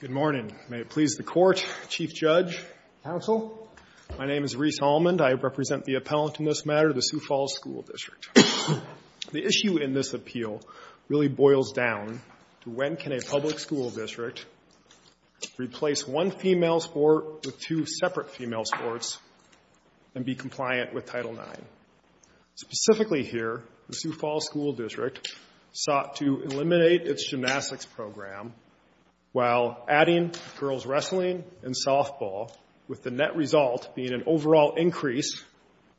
Good morning. May it please the Court, Chief Judge, Counsel, my name is Rhys Allmond. I represent the appellant in this matter, the Sioux Falls School District. The issue in this appeal really boils down to when can a public school district replace one female sport with two separate female sports and be compliant with Title IX. Specifically here, the Sioux Falls School District sought to eliminate its gymnastics program while adding girls wrestling and softball, with the net result being an overall increase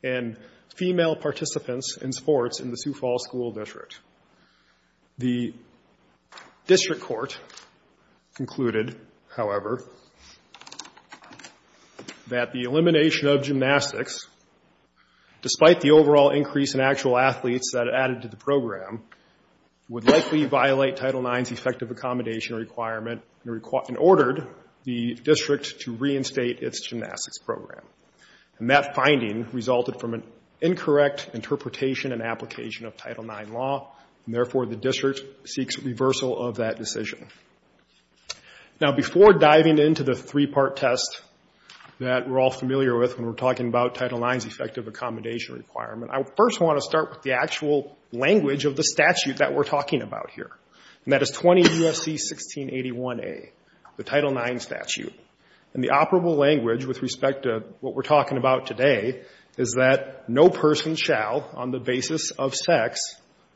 in female participants in sports in the Sioux Falls School District. The District Court concluded, however, that the elimination of gymnastics, despite the overall increase in actual athletes that it added to the program, would likely violate Title IX's effective accommodation requirement and ordered the District to reinstate its gymnastics program. And that finding resulted from an incorrect interpretation and application of Title IX law, and therefore the District seeks reversal of that decision. Now, before diving into the three-part test that we're all familiar with when we're talking about Title IX's effective accommodation requirement, I first want to start with the actual language of the statute that we're talking about here. And that is 20 U.S.C. 1681a, the Title IX statute. And the operable language with respect to what we're talking about today is that no person shall, on the basis of sex,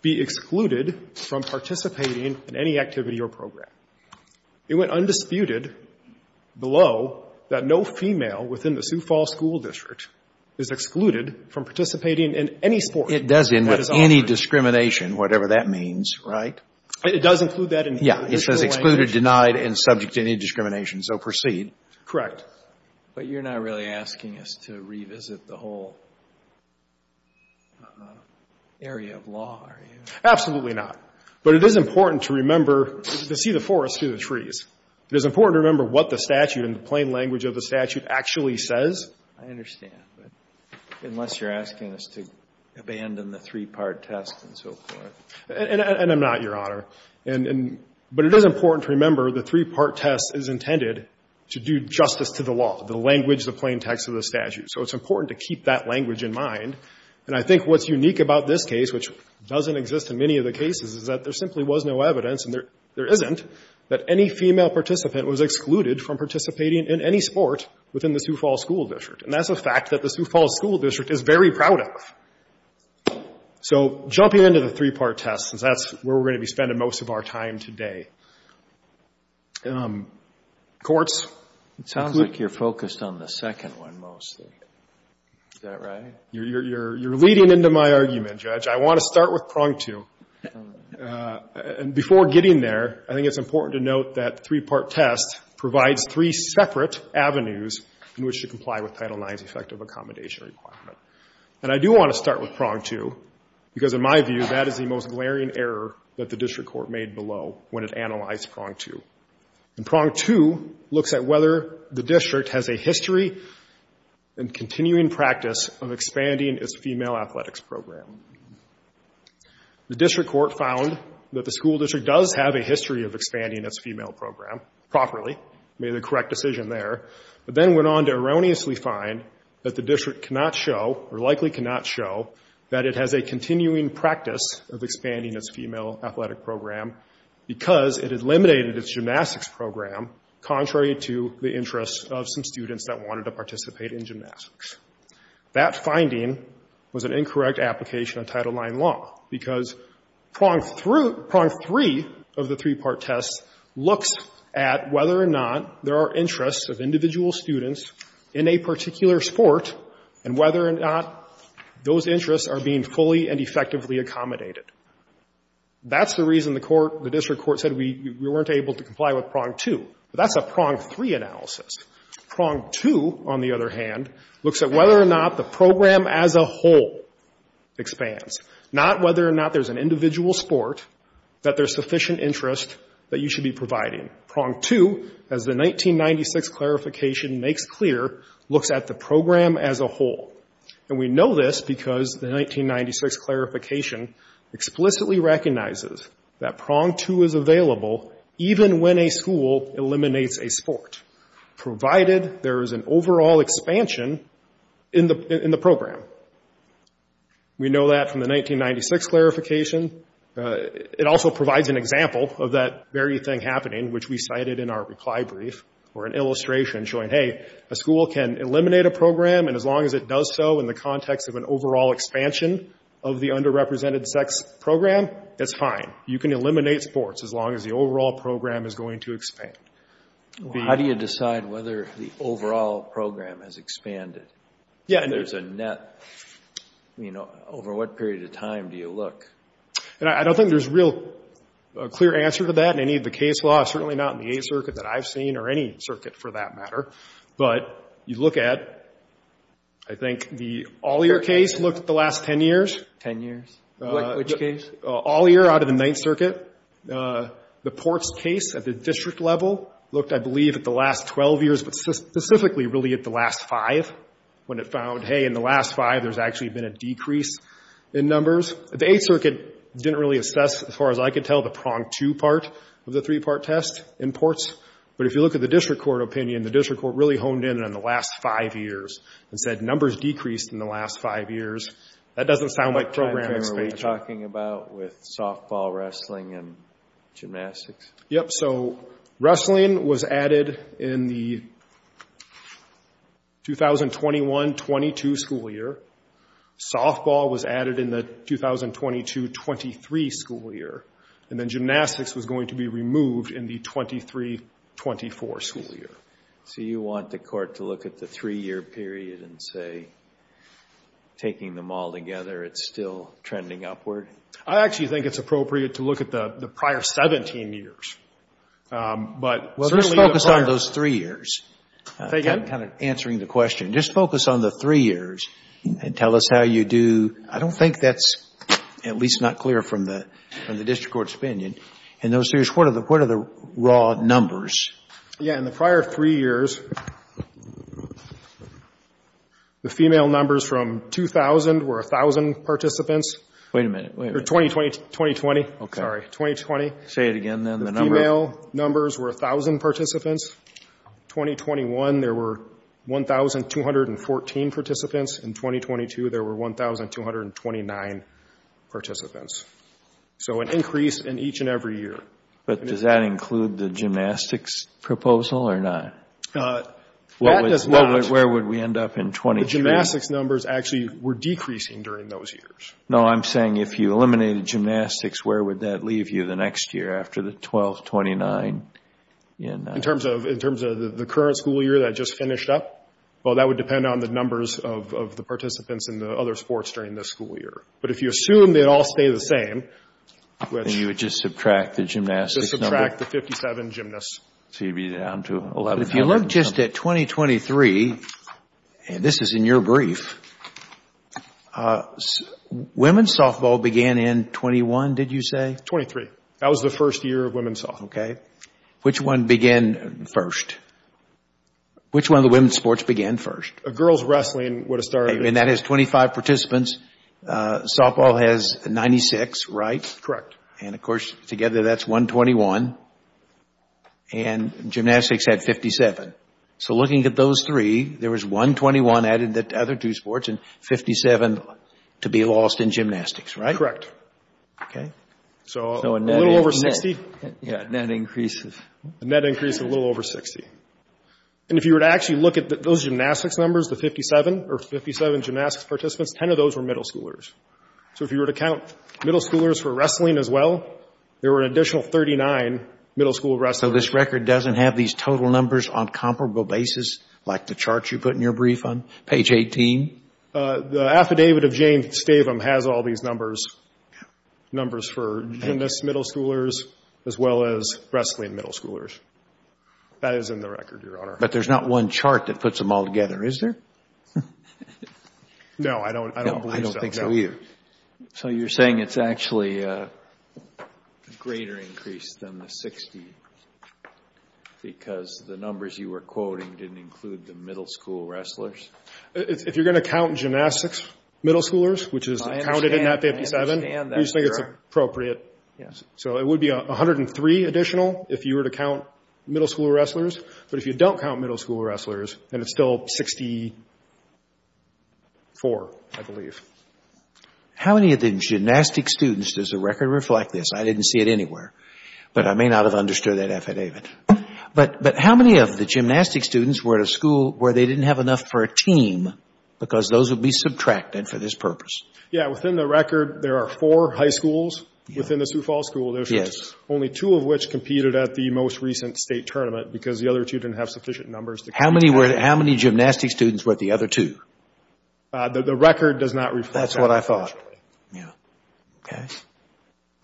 be excluded from participating in any activity or program. It went undisputed below that no female within the Sioux Falls School District is excluded from participating in any sport. It does end with any discrimination, whatever that means, right? It does include that in the original language. Yeah. It says excluded, denied, and subject to any discrimination. So proceed. Correct. But you're not really asking us to revisit the whole area of law, are you? Absolutely not. But it is important to remember, to see the forest through the trees. It is important to remember what the statute and the plain language of the statute actually says. I understand. But unless you're asking us to abandon the three-part test and so forth. And I'm not, Your Honor. And but it is important to remember the three-part test is intended to do justice to the law, the language, the plain text of the statute. So it's important to keep that language in mind. And I think what's unique about this case, which doesn't exist in many of the cases, is that there simply was no evidence, and there isn't, that any female participant was excluded from participating in any sport within the Sioux Falls School District. And that's a fact that the Sioux Falls School District is very proud of. So jumping into the three-part test, since that's where we're going to be spending most of our time today. Courts? It sounds like you're focused on the second one mostly. Is that right? You're leading into my argument, Judge. I want to start with prong two. And before getting there, I think it's important to note that three-part test provides three separate avenues in which to comply with Title IX's effective accommodation requirement. And I do want to start with prong two, because in my view, that is the most glaring error that the district court made below when it analyzed prong two. And prong two looks at whether the district has a history and continuing practice of explaining its female athletics program. The district court found that the school district does have a history of expanding its female program properly, made the correct decision there, but then went on to erroneously find that the district cannot show, or likely cannot show, that it has a continuing practice of expanding its female athletic program because it eliminated its gymnastics program, contrary to the interests of some students that wanted to participate in gymnastics. That finding was an incorrect application of Title IX law, because prong three of the three-part test looks at whether or not there are interests of individual students in a particular sport, and whether or not those interests are being fully and effectively accommodated. That's the reason the court, the district court, said we weren't able to comply with prong two. But that's a prong three analysis. Prong two, on the other hand, looks at whether or not the program as a whole expands, not whether or not there's an individual sport that there's sufficient interest that you should be providing. Prong two, as the 1996 clarification makes clear, looks at the program as a whole. And we know this because the 1996 clarification explicitly recognizes that prong two is available even when a school eliminates a sport, provided there is an overall expansion in the program. We know that from the 1996 clarification. It also provides an example of that very thing happening, which we cited in our reply brief, or an illustration showing, hey, a school can eliminate a program, and as long as it does so in the context of an overall expansion of the sports, as long as the overall program is going to expand. How do you decide whether the overall program has expanded? Yeah. If there's a net, you know, over what period of time do you look? I don't think there's a real clear answer to that in any of the case law. Certainly not in the Eighth Circuit that I've seen, or any circuit for that matter. But you look at, I think, the all-year case looked at the last ten years. Ten years? Which case? All-year out of the Ninth Circuit. The Ports case at the district level looked, I believe, at the last 12 years, but specifically really at the last five, when it found, hey, in the last five, there's actually been a decrease in numbers. The Eighth Circuit didn't really assess, as far as I could tell, the prong two part of the three-part test in Ports, but if you look at the district court opinion, the district court really honed in on the last five years and said numbers decreased in the last five years. That doesn't sound like program expansion. What are you talking about with softball, wrestling, and gymnastics? Yep. So wrestling was added in the 2021-22 school year. Softball was added in the 2022-23 school year. And then gymnastics was going to be removed in the 23-24 school year. So you want the court to look at the three-year period and say, taking them all together, it's still trending upward? I actually think it's appropriate to look at the prior 17 years. But certainly the prior... Well, just focus on those three years. Say again? Kind of answering the question. Just focus on the three years and tell us how you do... I don't think that's at least not clear from the district court's opinion. In those years, what are the raw numbers? Yeah. In the prior three years, the female numbers from 2000 were 1000 participants. Wait a minute. 2020. Sorry. 2020. Say it again then. The female numbers were 1000 participants. 2021, there were 1,214 participants. In 2022, there were 1,229 participants. So an increase in each and every year. But does that include the gymnastics proposal or not? That does not... Where would we end up in 2022? The gymnastics numbers actually were decreasing during those years. No, I'm saying if you eliminated gymnastics, where would that leave you the next year after the 1,229? In terms of the current school year that just finished up? Well, that would depend on the numbers of the participants in the other sports during the school year. But if you assume they'd all stay the same, which... So you would just subtract the gymnastics number? Just subtract the 57 gymnasts. So you'd be down to 11,000. But if you look just at 2023, and this is in your brief, women's softball began in 21, did you say? 23. That was the first year of women's softball. Okay. Which one began first? Which one of the women's sports began first? Girls wrestling would have started... And that has 25 participants. Softball has 96, right? Correct. And of course, together that's 121. And gymnastics had 57. So looking at those three, there was 121 added to the other two sports and 57 to be lost in gymnastics, right? Correct. Okay. So a little over 60. Yeah, net increases. Net increases a little over 60. And if you were to actually look at those gymnastics numbers, the 57 or 57 gymnastics participants, 10 of those were middle schoolers. So if you were to count middle schoolers for wrestling as well, there were an additional 39 middle school wrestlers. So this record doesn't have these total numbers on comparable basis, like the chart you put in your brief on page 18? The affidavit of James Stavum has all these numbers, numbers for gymnasts, middle schoolers, as well as wrestling middle schoolers. That is in the record, Your Honor. But there's not one chart that puts them all together, is there? No, I don't believe so. I don't think so either. So you're saying it's actually a greater increase than the 60 because the numbers you were quoting didn't include the middle school wrestlers? If you're going to count gymnastics middle schoolers, which is counted in that 57, we just think it's appropriate. So it would be 103 additional if you were to count middle school wrestlers. But if you don't count middle school wrestlers, then it's still 64, I believe. How many of the gymnastic students does the record reflect this? I didn't see it anywhere, but I may not have understood that affidavit. But how many of the gymnastic students were at a school where they didn't have enough for a team because those would be subtracted for this purpose? Yeah, within the record, there are four high schools within the Sioux Falls School District, only two of which competed at the most recent state tournament because the other two didn't have sufficient numbers to compete. How many gymnastic students were at the other two? The record does not reflect that, actually. That's what I thought. Yeah. Okay.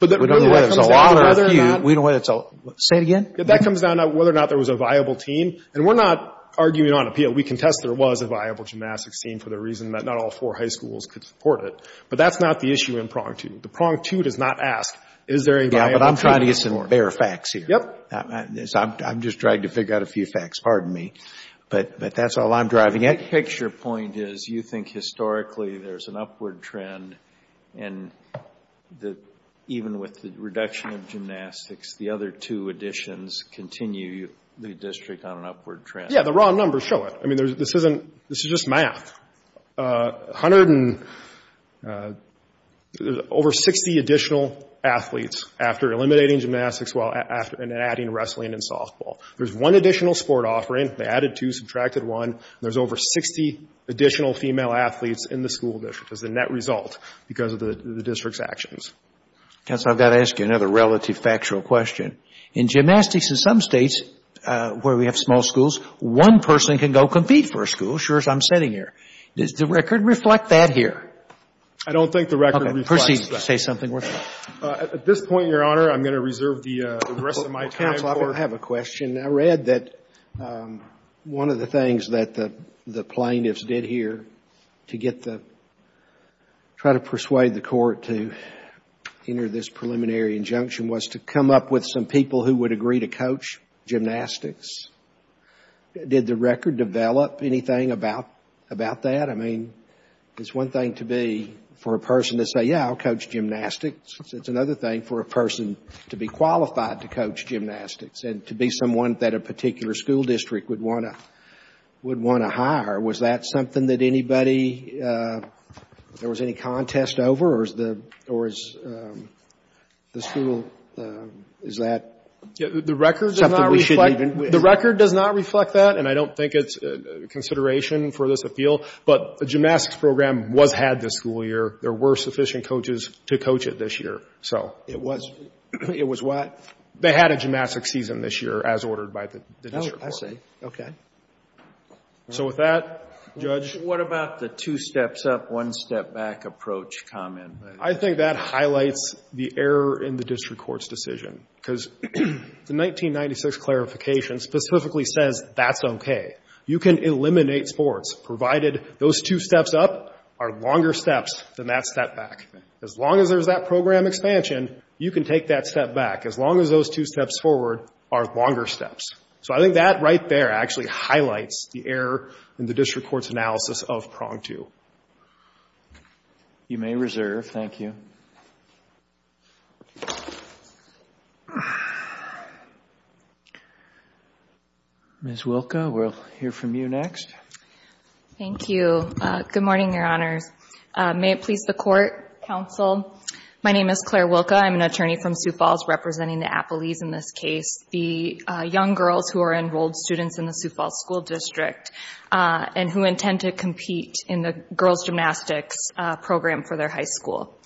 We don't know whether it's a lot or a few. Say it again? That comes down to whether or not there was a viable team. And we're not arguing on appeal. We contest there was a viable gymnastics team for the reason that not all four high schools could support it. But that's not the issue in prong two. The prong two does not ask, is there a viable team? Yeah, but I'm trying to get some fair facts here. Yep. I'm just trying to figure out a few facts. Pardon me. But that's all I'm driving at. My picture point is you think historically there's an upward trend, and even with the reduction of gymnastics, the other two additions continue the district on an upward trend. Yeah, the raw numbers show it. I mean, this is just math. Over 60 additional athletes after eliminating gymnastics and adding wrestling and softball. There's one additional sport offering. They added two, subtracted one. There's over 60 additional female athletes in the school district as a net result because of the district's actions. Counsel, I've got to ask you another relative factual question. In gymnastics in some states where we have small schools, one person can go compete for a school. I'm sitting here. Does the record reflect that here? I don't think the record reflects that. Okay. Proceed to say something worthwhile. At this point, Your Honor, I'm going to reserve the rest of my time for... Counsel, I have a question. I read that one of the things that the plaintiffs did here to try to persuade the court to enter this preliminary injunction was to come up with some people who would agree to coach gymnastics. Did the record develop anything about that? I mean, it's one thing to be, for a person to say, yeah, I'll coach gymnastics. It's another thing for a person to be qualified to coach gymnastics and to be someone that a particular school district would want to hire. Was that something that anybody, there was any contest over, or is the school, is that... The record does not reflect that, and I don't think it's a consideration for this appeal, but a gymnastics program was had this school year. There were sufficient coaches to coach it this year. It was what? They had a gymnastics season this year as ordered by the district court. Oh, I see. Okay. So with that, Judge... What about the two steps up, one step back approach comment? I think that highlights the error in the district court's decision because the 1996 clarification specifically says that's okay. You can eliminate sports, provided those two steps up are longer steps than that step back. As long as there's that program expansion, you can take that step back, as long as those two steps forward are longer steps. So I think that right there actually highlights the error in the district court's analysis of prong two. You may reserve. Thank you. Ms. Wilka, we'll hear from you next. Thank you. Good morning, Your Honors. May it please the Court, Counsel, my name is Claire Wilka. I'm an attorney from Sioux Falls representing the Appalees in this case, the young girls who are enrolled students in the Sioux Falls School District and who intend to compete in the girls' gymnastics program for their high school.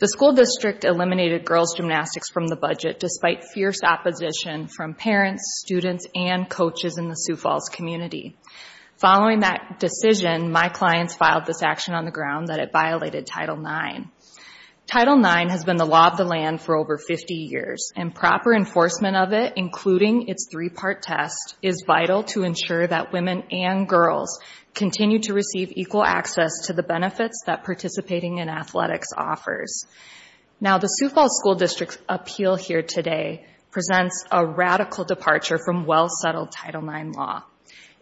The school district eliminated girls' gymnastics from the budget despite fierce opposition from parents, students, and coaches in the Sioux Falls community. Following that decision, my clients filed this action on the ground that it violated Title IX. Title IX has been the law of the land for over 50 years, and proper enforcement of it, including its three-part test, is vital to ensure that women and girls continue to receive equal access to the benefits that participating in athletics offers. Now, the Sioux Falls School District's appeal here today presents a radical departure from well-settled Title IX law.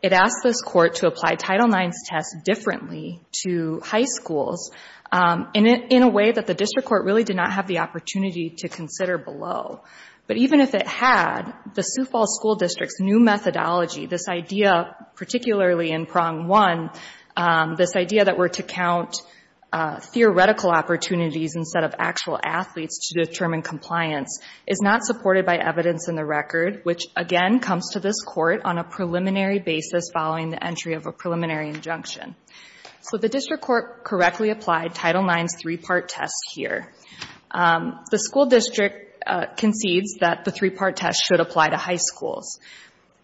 It asks this Court to apply Title IX's test differently to high schools in a way that the district court really did not have the opportunity to consider below. But even if it had, the Sioux Falls School District's new methodology, this idea, particularly in prong one, this idea that we're to count theoretical opportunities instead of actual athletes to determine compliance, is not supported by evidence in the record, which again comes to this Court on a preliminary basis following the entry of a preliminary injunction. So the district court correctly applied Title IX's three-part test here. The school district concedes that the three-part test should apply to high schools.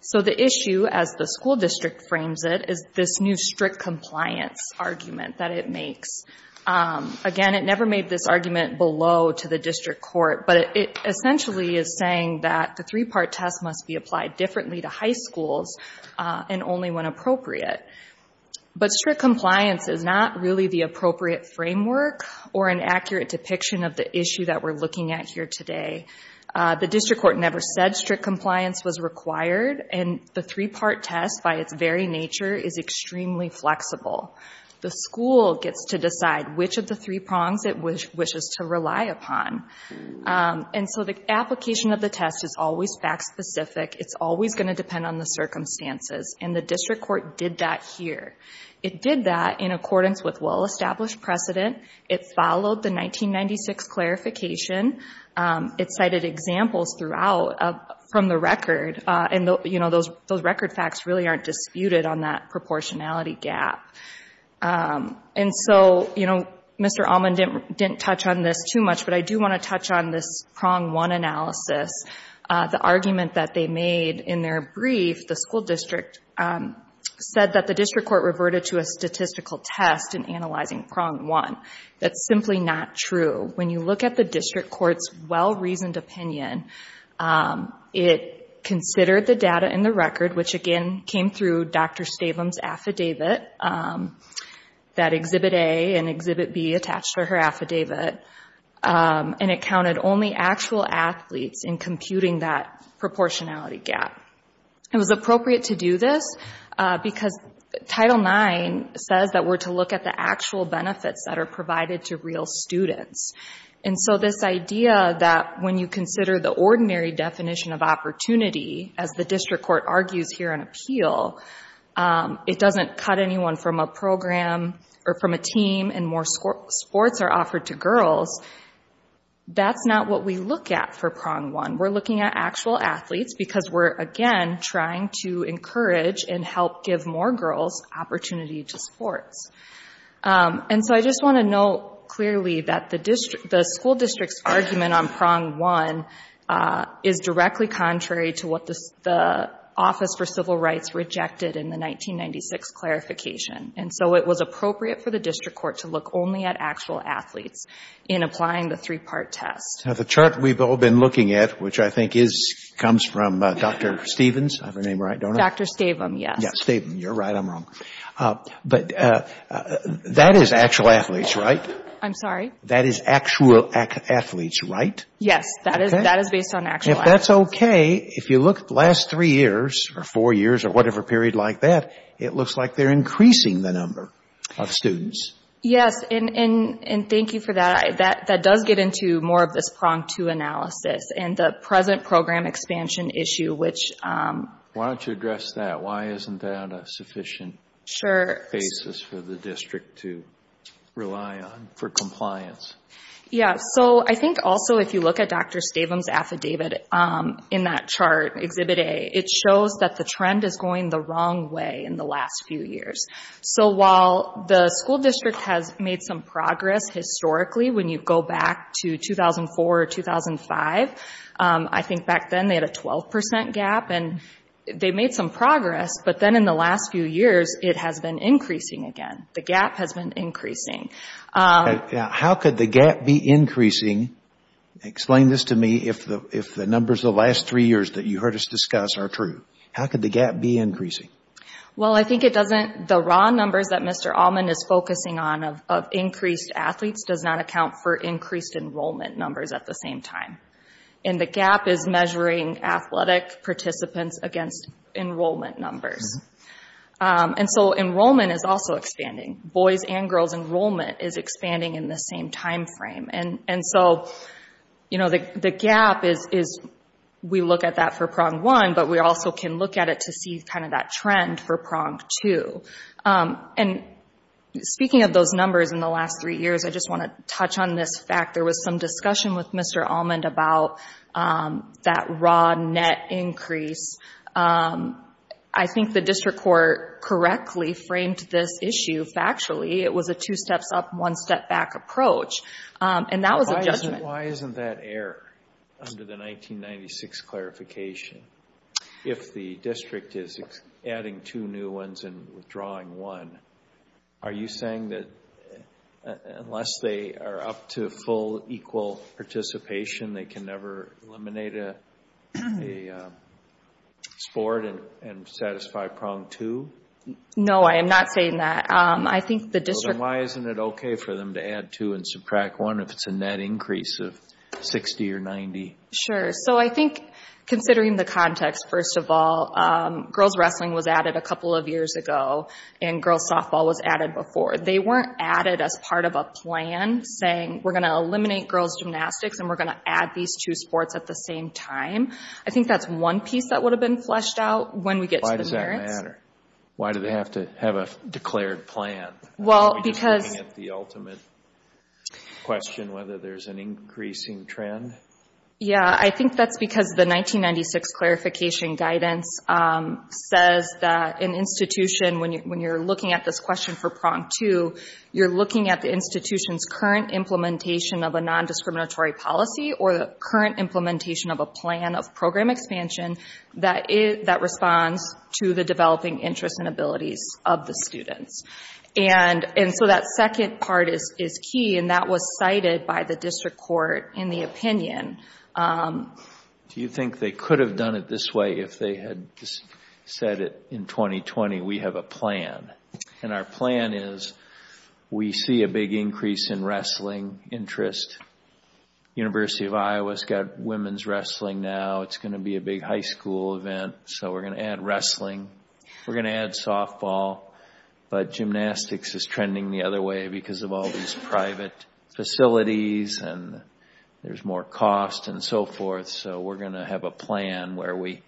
So the issue, as the school district frames it, is this new strict compliance argument that it makes. Again, it never made this argument below to the district court, but it essentially is saying that the three-part test must be applied differently to high schools and only when appropriate. But strict compliance is not really the appropriate framework or an accurate depiction of the issue that we're looking at here today. The district court never said strict compliance was required, and the three-part test, by its very nature, is extremely flexible. The school gets to decide which of the three prongs it wishes to rely upon. And so the application of the test is always fact-specific. It's always going to depend on the circumstances, and the district court did that here. It did that in accordance with well-established precedent. It followed the 1996 clarification. It cited examples from the record, and those record facts really aren't disputed on that proportionality gap. And so Mr. Allman didn't touch on this too much, but I do want to touch on this prong one analysis. The argument that they made in their brief, the school district, said that the district court reverted to a statistical test in analyzing prong one. That's simply not true. When you look at the district court's well-reasoned opinion, it considered the data in the record, which again came through Dr. Stabum's affidavit, that Exhibit A and Exhibit B attached to her affidavit, and it counted only actual athletes in computing that proportionality gap. It was appropriate to do this because Title IX says that we're to look at the actual benefits that are provided to real students. And so this idea that when you consider the ordinary definition of opportunity, as the district court argues here in appeal, it doesn't cut anyone from a program or from a team, and more sports are offered to girls, that's not what we look at for prong one. We're looking at actual athletes because we're, again, trying to encourage and help give more girls opportunity to sports. And so I just want to note clearly that the school district's argument on prong one is directly contrary to what the Office for Civil Rights rejected in the 1996 clarification. And so it was appropriate for the district court to look only at actual athletes in applying the three-part test. Now, the chart we've all been looking at, which I think comes from Dr. Stevens, I have her name right, don't I? Dr. Stavum, yes. Stavum, you're right, I'm wrong. But that is actual athletes, right? I'm sorry? That is actual athletes, right? Yes, that is based on actual athletes. If that's okay, if you look at the last three years or four years or whatever period like that, it looks like they're increasing the number of students. Yes, and thank you for that. That does get into more of this prong two analysis and the present program expansion issue, which... Why don't you address that? Why isn't that a sufficient basis for the district to rely on for compliance? Yes, so I think also if you look at Dr. Stavum's affidavit in that chart, Exhibit A, it shows that the trend is going the wrong way in the last few years. So while the school district has made some progress historically when you go back to 2004 or 2005, I think back then they had a 12% gap and they made some progress, but then in the last few years it has been increasing again. The gap has been increasing. How could the gap be increasing? Explain this to me if the numbers the last three years that you heard us discuss are true. How could the gap be increasing? Well, I think it doesn't... The raw numbers that Mr. Allman is focusing on of increased athletes does not account for increased enrollment numbers at the same time. And the gap is measuring athletic participants against enrollment numbers. And so enrollment is also expanding. Boys' and girls' enrollment is expanding in the same time frame. And so the gap is we look at that for prong one, but we also can look at it to see kind of that trend for prong two. And speaking of those numbers in the last three years, I just want to touch on this fact. There was some discussion with Mr. Allman about that raw net increase. I think the district court correctly framed this issue factually. It was a two steps up, one step back approach. And that was a judgment. Why isn't that error under the 1996 clarification? If the district is adding two new ones and withdrawing one, are you saying that unless they are up to full equal participation, they can never eliminate a sport and satisfy prong two? No, I am not saying that. I think the district... Sure. So I think considering the context, first of all, girls' wrestling was added a couple of years ago, and girls' softball was added before. They weren't added as part of a plan saying we're going to eliminate girls' gymnastics and we're going to add these two sports at the same time. I think that's one piece that would have been fleshed out when we get to the merits. Why does that matter? Why do they have to have a declared plan? Are we just looking at the ultimate question, whether there's an increasing trend? Yeah, I think that's because the 1996 clarification guidance says that an institution, when you're looking at this question for prong two, you're looking at the institution's current implementation of a nondiscriminatory policy or the current implementation of a plan of program expansion that responds to the developing interests and abilities of the students. And so that second part is key, and that was cited by the district court in the opinion. Do you think they could have done it this way if they had said it in 2020, we have a plan? And our plan is we see a big increase in wrestling interest. The University of Iowa's got women's wrestling now. It's going to be a big high school event. So we're going to add wrestling. We're going to add softball. But gymnastics is trending the other way because of all these private facilities, and there's more cost and so forth. So we're going to have a plan where we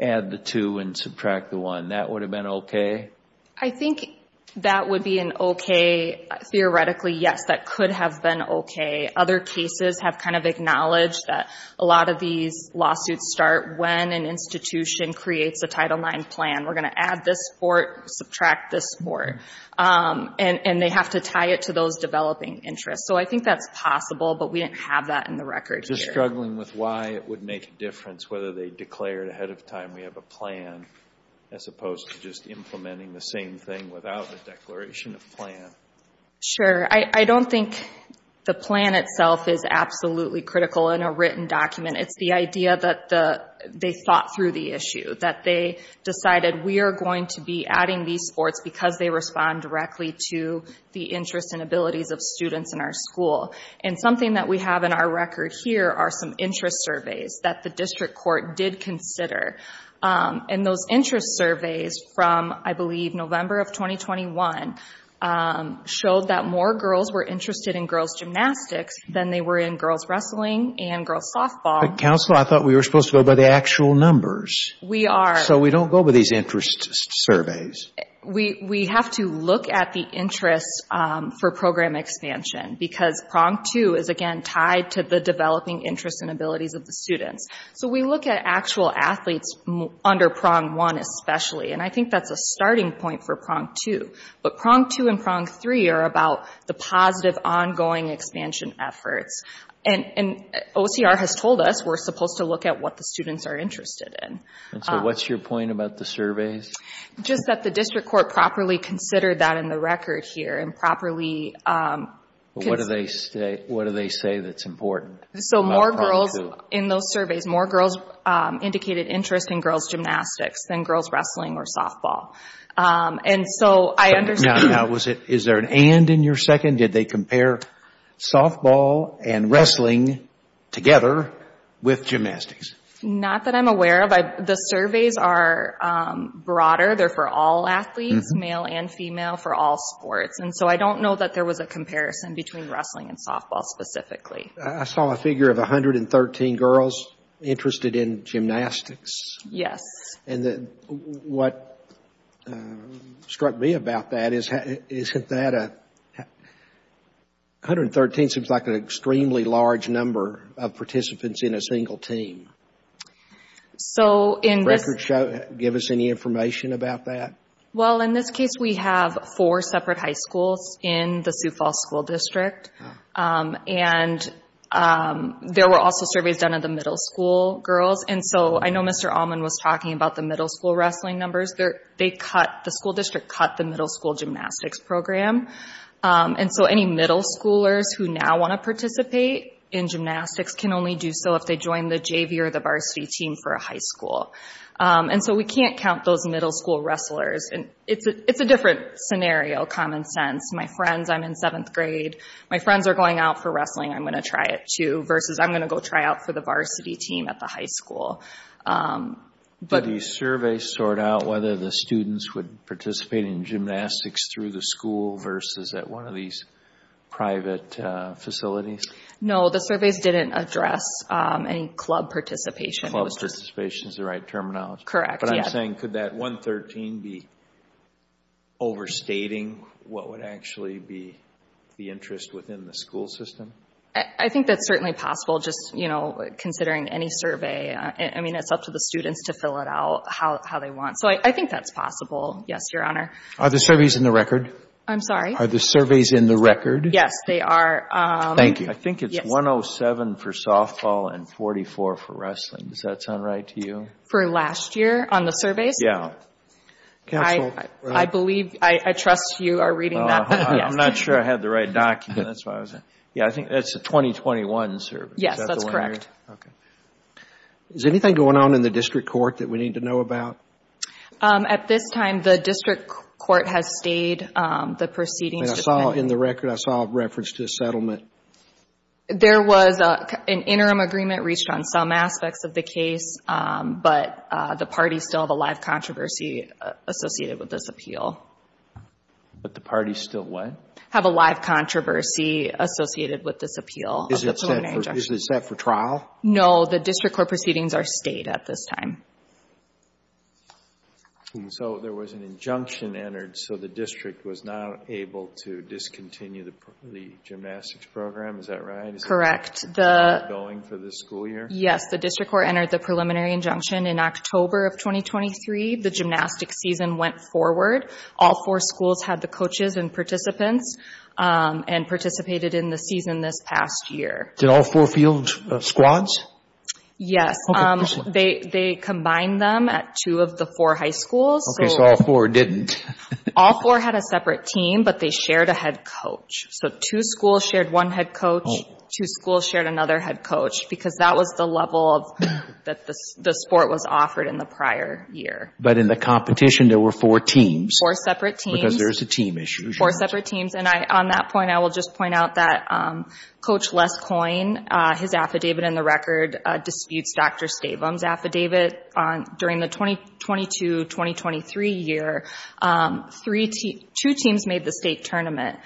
add the two and subtract the one. That would have been okay? I think that would be an okay. Theoretically, yes, that could have been okay. Other cases have kind of acknowledged that a lot of these lawsuits start when an institution creates a Title IX plan. We're going to add this sport, subtract this sport. And they have to tie it to those developing interests. So I think that's possible, but we didn't have that in the record here. Just struggling with why it would make a difference, whether they declared ahead of time we have a plan as opposed to just implementing the same thing without a declaration of plan. Sure. I don't think the plan itself is absolutely critical in a written document. It's the idea that they thought through the issue, that they decided we are going to be adding these sports because they respond directly to the interests and abilities of students in our school. And something that we have in our record here are some interest surveys that the district court did consider. And those interest surveys from, I believe, November of 2021, showed that more girls were interested in girls' gymnastics than they were in girls' wrestling and girls' softball. But, Counselor, I thought we were supposed to go by the actual numbers. We are. So we don't go by these interest surveys. We have to look at the interest for program expansion because prong two is, again, tied to the developing interests and abilities of the students. So we look at actual athletes under prong one especially, and I think that's a starting point for prong two. But prong two and prong three are about the positive ongoing expansion efforts. And OCR has told us we're supposed to look at what the students are interested in. And so what's your point about the surveys? Just that the district court properly considered that in the record here What do they say that's important about prong two? So more girls in those surveys, more girls indicated interest in girls' gymnastics than girls' wrestling or softball. Now, is there an and in your second? Did they compare softball and wrestling together with gymnastics? Not that I'm aware of. The surveys are broader. They're for all athletes, male and female, for all sports. And so I don't know that there was a comparison between wrestling and softball specifically. I saw a figure of 113 girls interested in gymnastics. Yes. And what struck me about that is, 113 seems like an extremely large number of participants in a single team. So in this Can you give us any information about that? Well, in this case, we have four separate high schools in the Sioux Falls School District. And there were also surveys done of the middle school girls. And so I know Mr. Allman was talking about the middle school wrestling numbers. The school district cut the middle school gymnastics program. And so any middle schoolers who now want to participate in gymnastics can only do so if they join the JV or the varsity team for a high school. And so we can't count those middle school wrestlers. It's a different scenario, common sense. My friends, I'm in seventh grade. My friends are going out for wrestling. I'm going to try it too, versus I'm going to go try out for the varsity team at the high school. Did the surveys sort out whether the students would participate in gymnastics through the school versus at one of these private facilities? No, the surveys didn't address any club participation. Club participation is the right terminology. Correct, yes. I'm just saying, could that 113 be overstating what would actually be the interest within the school system? I think that's certainly possible, just considering any survey. I mean, it's up to the students to fill it out how they want. So I think that's possible, yes, Your Honor. Are the surveys in the record? I'm sorry? Are the surveys in the record? Yes, they are. Thank you. I think it's 107 for softball and 44 for wrestling. Does that sound right to you? For last year on the surveys? Yes. Counsel? I believe, I trust you are reading that. I'm not sure I have the right document. That's why I was asking. Yes, I think that's the 2021 survey. Yes, that's correct. Okay. Is anything going on in the district court that we need to know about? At this time, the district court has stayed. The proceedings depend... In the record, I saw a reference to a settlement. There was an interim agreement reached on some aspects of the case, but the parties still have a live controversy associated with this appeal. But the parties still what? Have a live controversy associated with this appeal. Is it set for trial? No, the district court proceedings are stayed at this time. So there was an injunction entered, so the district was not able to discontinue the gymnastics program. Is that right? Correct. Is it ongoing for this school year? Yes. The district court entered the preliminary injunction in October of 2023. The gymnastics season went forward. All four schools had the coaches and participants and participated in the season this past year. Did all four field squads? Yes. They combined them at two of the four high schools. Okay, so all four didn't. All four had a separate team, but they shared a head coach. So two schools shared one head coach. Two schools shared another head coach because that was the level that the sport was offered in the prior year. But in the competition, there were four teams. Four separate teams. Because there's a team issue. Four separate teams. And on that point, I will just point out that Coach Les Coyne, his affidavit in the record disputes Dr. Stabum's affidavit. During the 2022-2023 year, two teams made the state tournament.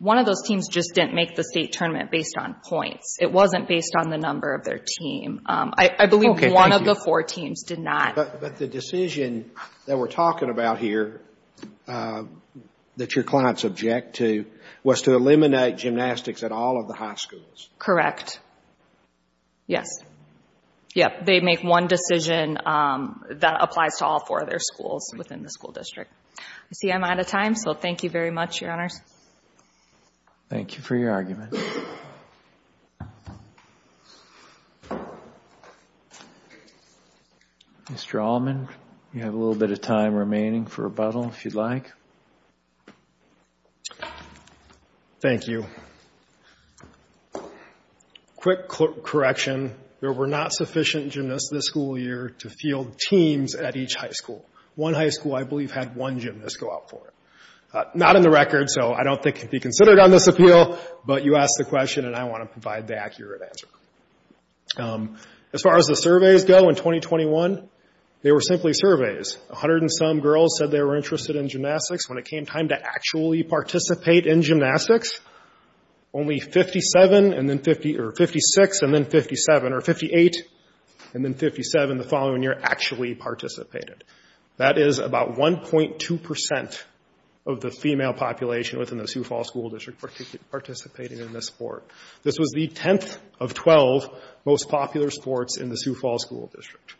One of those teams just didn't make the state tournament based on points. It wasn't based on the number of their team. I believe one of the four teams did not. But the decision that we're talking about here that your clients object to was to eliminate gymnastics at all of the high schools. Correct. Yes. Yep, they make one decision that applies to all four of their schools within the school district. I see I'm out of time, so thank you very much, Your Honors. Thank you for your argument. Mr. Allman, you have a little bit of time remaining for rebuttal, if you'd like. Thank you. Quick correction. There were not sufficient gymnasts this school year to field teams at each high school. One high school, I believe, had one gymnast go out for it. Not in the record, so I don't think it can be considered on this appeal, but you asked the question, and I want to provide the accurate answer. As far as the surveys go in 2021, they were simply surveys. A hundred and some girls said they were interested in gymnastics. When it came time to actually participate in gymnastics, only 56 and then 57, or 58 and then 57 the following year actually participated. That is about 1.2% of the female population within the Sioux Falls School District participating in this sport. This was the 10th of 12 most popular sports in the Sioux Falls School District.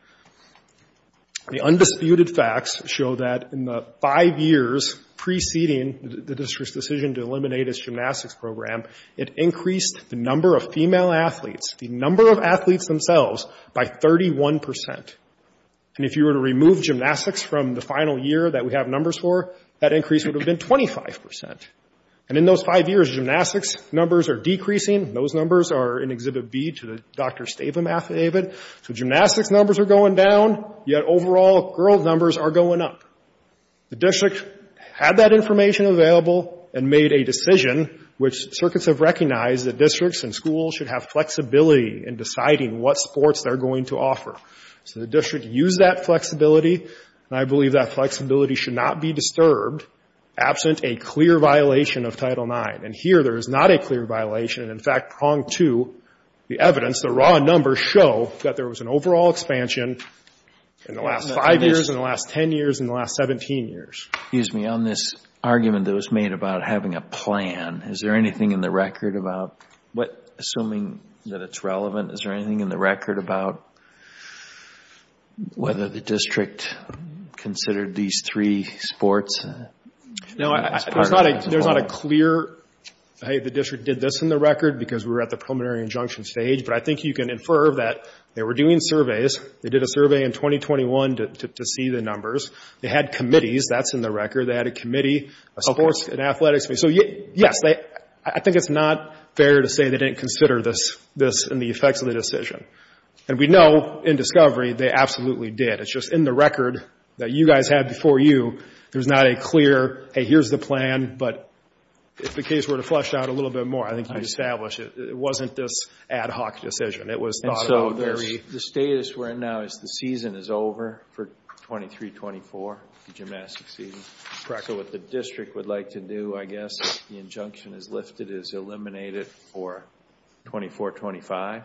The undisputed facts show that in the five years preceding the district's decision to eliminate its gymnastics program, it increased the number of female athletes, the number of athletes themselves, by 31%. And if you were to remove gymnastics from the final year that we have numbers for, that increase would have been 25%. And in those five years, gymnastics numbers are decreasing. Those numbers are in Exhibit B to the Dr. Stavum affidavit. So gymnastics numbers are going down, yet overall girls' numbers are going up. The district had that information available and made a decision, which circuits have recognized that districts and schools should have flexibility in deciding what sports they're going to offer. So the district used that flexibility, and I believe that flexibility should not be disturbed absent a clear violation of Title IX. And here there is not a clear violation. In fact, prong to the evidence, the raw numbers show that there was an overall expansion in the last five years, in the last 10 years, in the last 17 years. Excuse me. On this argument that was made about having a plan, is there anything in the record about what, assuming that it's relevant, is there anything in the record about whether the district considered these three sports? No, there's not a clear, hey, the district did this in the record because we were at the preliminary injunction stage. But I think you can infer that they were doing surveys. They did a survey in 2021 to see the numbers. They had committees. That's in the record. They had a committee of sports and athletics. So yes, I think it's not fair to say they didn't consider this and the effects of the decision. And we know in discovery they absolutely did. It's just in the record that you guys had before you, there's not a clear, hey, here's the plan. But if the case were to flesh out a little bit more, I think you'd establish it. It wasn't this ad hoc decision. And so the status we're in now is the season is over for 23-24, the gymnastic season. Correct what the district would like to do, I guess. The injunction is lifted, is eliminated for 24-25.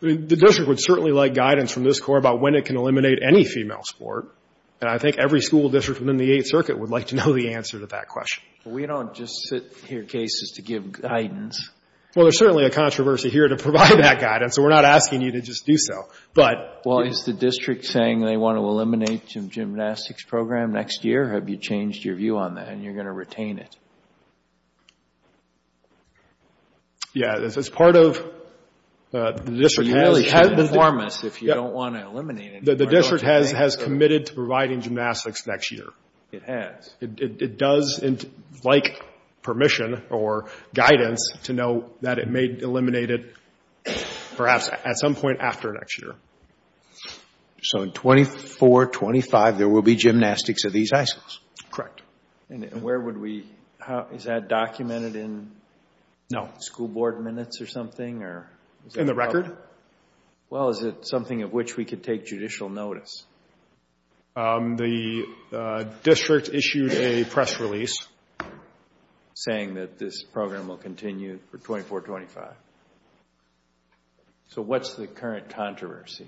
The district would certainly like guidance from this Court about when it can eliminate any female sport. And I think every school district within the Eighth Circuit would like to know the answer to that question. We don't just sit here cases to give guidance. Well, there's certainly a controversy here to provide that guidance. So we're not asking you to just do so. Well, is the district saying they want to eliminate the gymnastics program next year? Have you changed your view on that and you're going to retain it? Yeah, as part of the district has. You really have to inform us if you don't want to eliminate it. The district has committed to providing gymnastics next year. It has. It does like permission or guidance to know that it may eliminate it perhaps at some point after next year. So in 24-25, there will be gymnastics at these high schools? Correct. And where would we – is that documented in school board minutes or something? No. In the record? Well, is it something of which we could take judicial notice? The district issued a press release saying that this program will continue for 24-25. So what's the current controversy?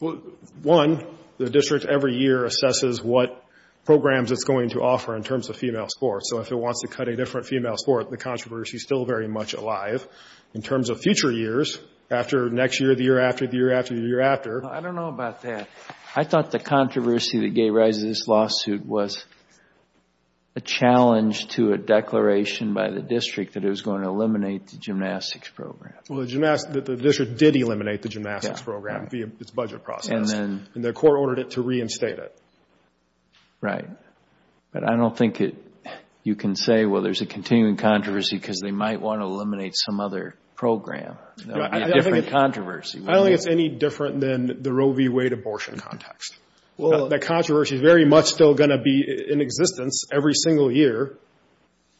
Well, one, the district every year assesses what programs it's going to offer in terms of female sports. So if it wants to cut a different female sport, the controversy is still very much alive. In terms of future years, after next year, the year after, the year after, the year after. I don't know about that. I thought the controversy that gave rise to this lawsuit was a challenge to a declaration by the district that it was going to eliminate the gymnastics program. Well, the district did eliminate the gymnastics program via its budget process. And the court ordered it to reinstate it. Right. But I don't think you can say, well, there's a continuing controversy because they might want to eliminate some other program. It would be a different controversy. I don't think it's any different than the Roe v. Wade abortion context. That controversy is very much still going to be in existence every single year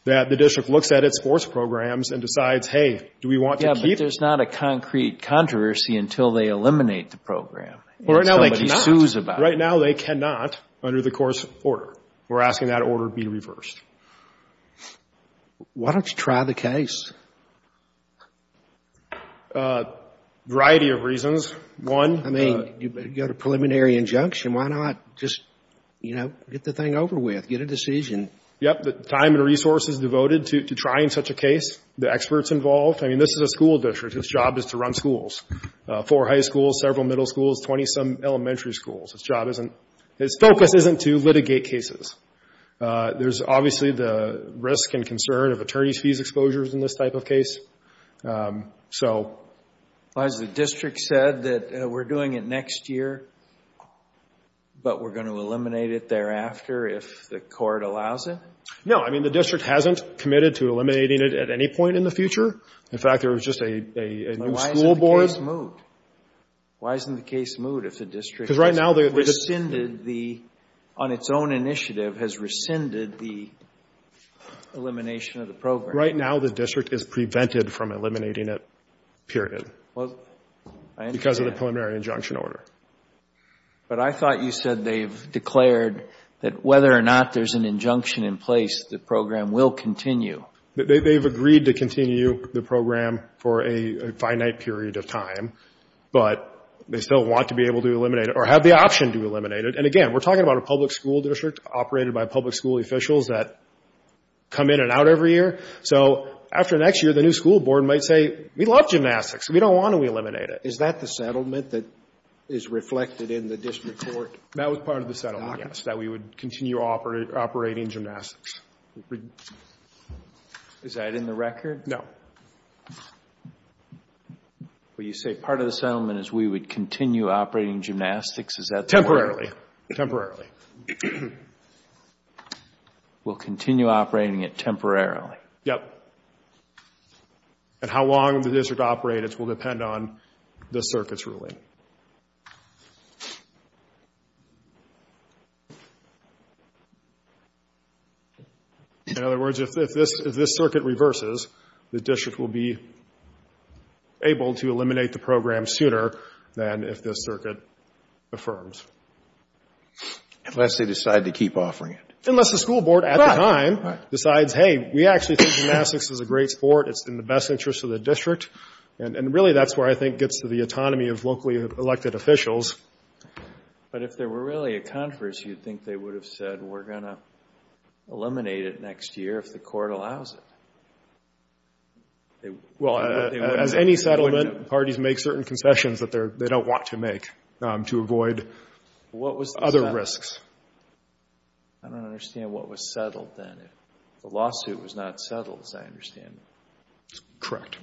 that the district looks at its sports programs and decides, hey, do we want to keep it? Yeah, but there's not a concrete controversy until they eliminate the program. Well, right now they cannot. And somebody sues about it. Right now they cannot under the court's order. We're asking that order be reversed. Why don't you try the case? A variety of reasons. One, the — I mean, you've got a preliminary injunction. Why not just, you know, get the thing over with, get a decision? Yep. The time and resources devoted to trying such a case, the experts involved. I mean, this is a school district. Its job is to run schools. Four high schools, several middle schools, 20-some elementary schools. Its job isn't — its focus isn't to litigate cases. There's obviously the risk and concern of attorney's fees exposures in this type of case. So — Has the district said that we're doing it next year, but we're going to eliminate it thereafter if the court allows it? No. I mean, the district hasn't committed to eliminating it at any point in the future. In fact, there was just a new school board — Why isn't the case moved? Why isn't the case moved if the district — Because right now the —— rescinded the — on its own initiative has rescinded the elimination of the program. Right now the district is prevented from eliminating it, period. Because of the preliminary injunction order. But I thought you said they've declared that whether or not there's an injunction in place, the program will continue. They've agreed to continue the program for a finite period of time, but they still want to be able to eliminate it or have the option to eliminate it. And again, we're talking about a public school district operated by public school officials that come in and out every year. So after next year, the new school board might say, we love gymnastics. We don't want to eliminate it. Is that the settlement that is reflected in the district court? That was part of the settlement, yes, that we would continue operating gymnastics. Is that in the record? No. Well, you say part of the settlement is we would continue operating gymnastics. Is that the word? Temporarily. Temporarily. We'll continue operating it temporarily. Yep. And how long the district operates will depend on the circuit's ruling. In other words, if this circuit reverses, the district will be able to eliminate the program sooner than if this circuit affirms. Unless they decide to keep offering it. Unless the school board at the time decides, hey, we actually think gymnastics is a great sport. It's in the best interest of the district. And really that's where I think gets to the autonomy of locally elected officials. But if there were really a conference, you think they would have said we're going to eliminate it next year if the court allows it? Well, as any settlement, parties make certain concessions that they don't want to make to avoid other risks. I don't understand what was settled then. The lawsuit was not settled, as I understand it. Correct.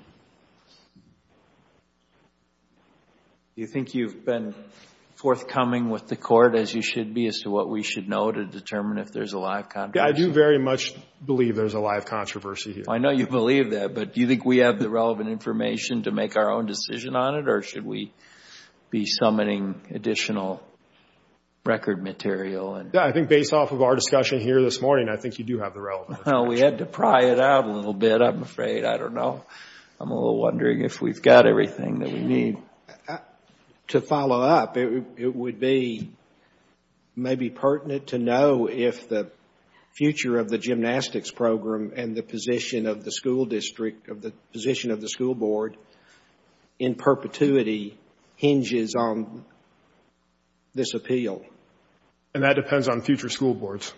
Do you think you've been forthcoming with the court, as you should be, as to what we should know to determine if there's a live controversy? Yeah, I do very much believe there's a live controversy here. I know you believe that, but do you think we have the relevant information to make our own decision on it, or should we be summoning additional record material? Yeah, I think based off of our discussion here this morning, I think you do have the relevant information. Well, we had to pry it out a little bit, I'm afraid. I don't know. I'm a little wondering if we've got everything that we need. To follow up, it would be maybe pertinent to know if the future of the gymnastics program and the position of the school district, the position of the school board in perpetuity hinges on this appeal. And that depends on future school boards.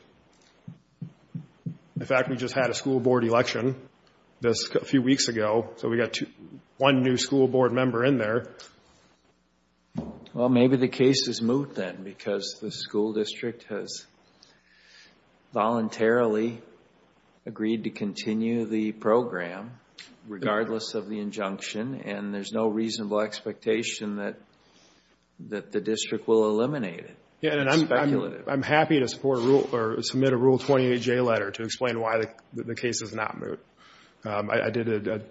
In fact, we just had a school board election a few weeks ago, so we've got one new school board member in there. Well, maybe the case is moot then, because the school district has voluntarily agreed to continue the program, regardless of the injunction, and there's no reasonable expectation that the district will eliminate it. I'm happy to submit a Rule 28J letter to explain why the case is not moot. I did a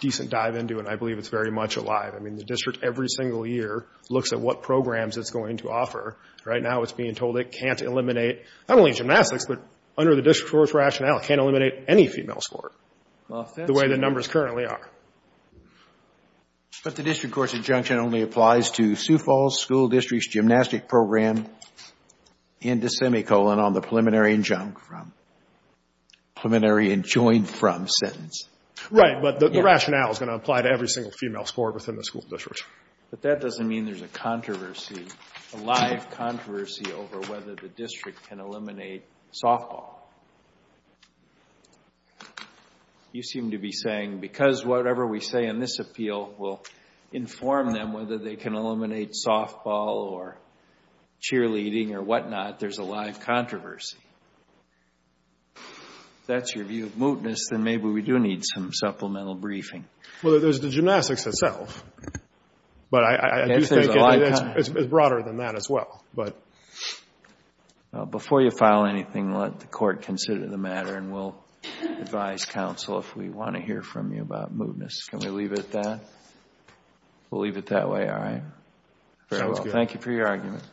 decent dive into it, and I believe it's very much alive. I mean, the district every single year looks at what programs it's going to offer. Right now it's being told it can't eliminate not only gymnastics, but under the district court's rationale it can't eliminate any female sport, the way the numbers currently are. But the district court's injunction only applies to Sioux Falls School District's gymnastic program and the semicolon on the preliminary injunct from, preliminary enjoined from sentence. Right, but the rationale is going to apply to every single female sport within the school district. But that doesn't mean there's a controversy, a live controversy over whether the district can eliminate softball. You seem to be saying because whatever we say in this appeal will inform them whether they can eliminate softball or cheerleading or whatnot, there's a live controversy. If that's your view of mootness, then maybe we do need some supplemental briefing. Well, there's the gymnastics itself. But I do think it's broader than that as well. Before you file anything, let the court consider the matter, and we'll advise counsel if we want to hear from you about mootness. Can we leave it at that? We'll leave it that way. All right. Thank you for your argument.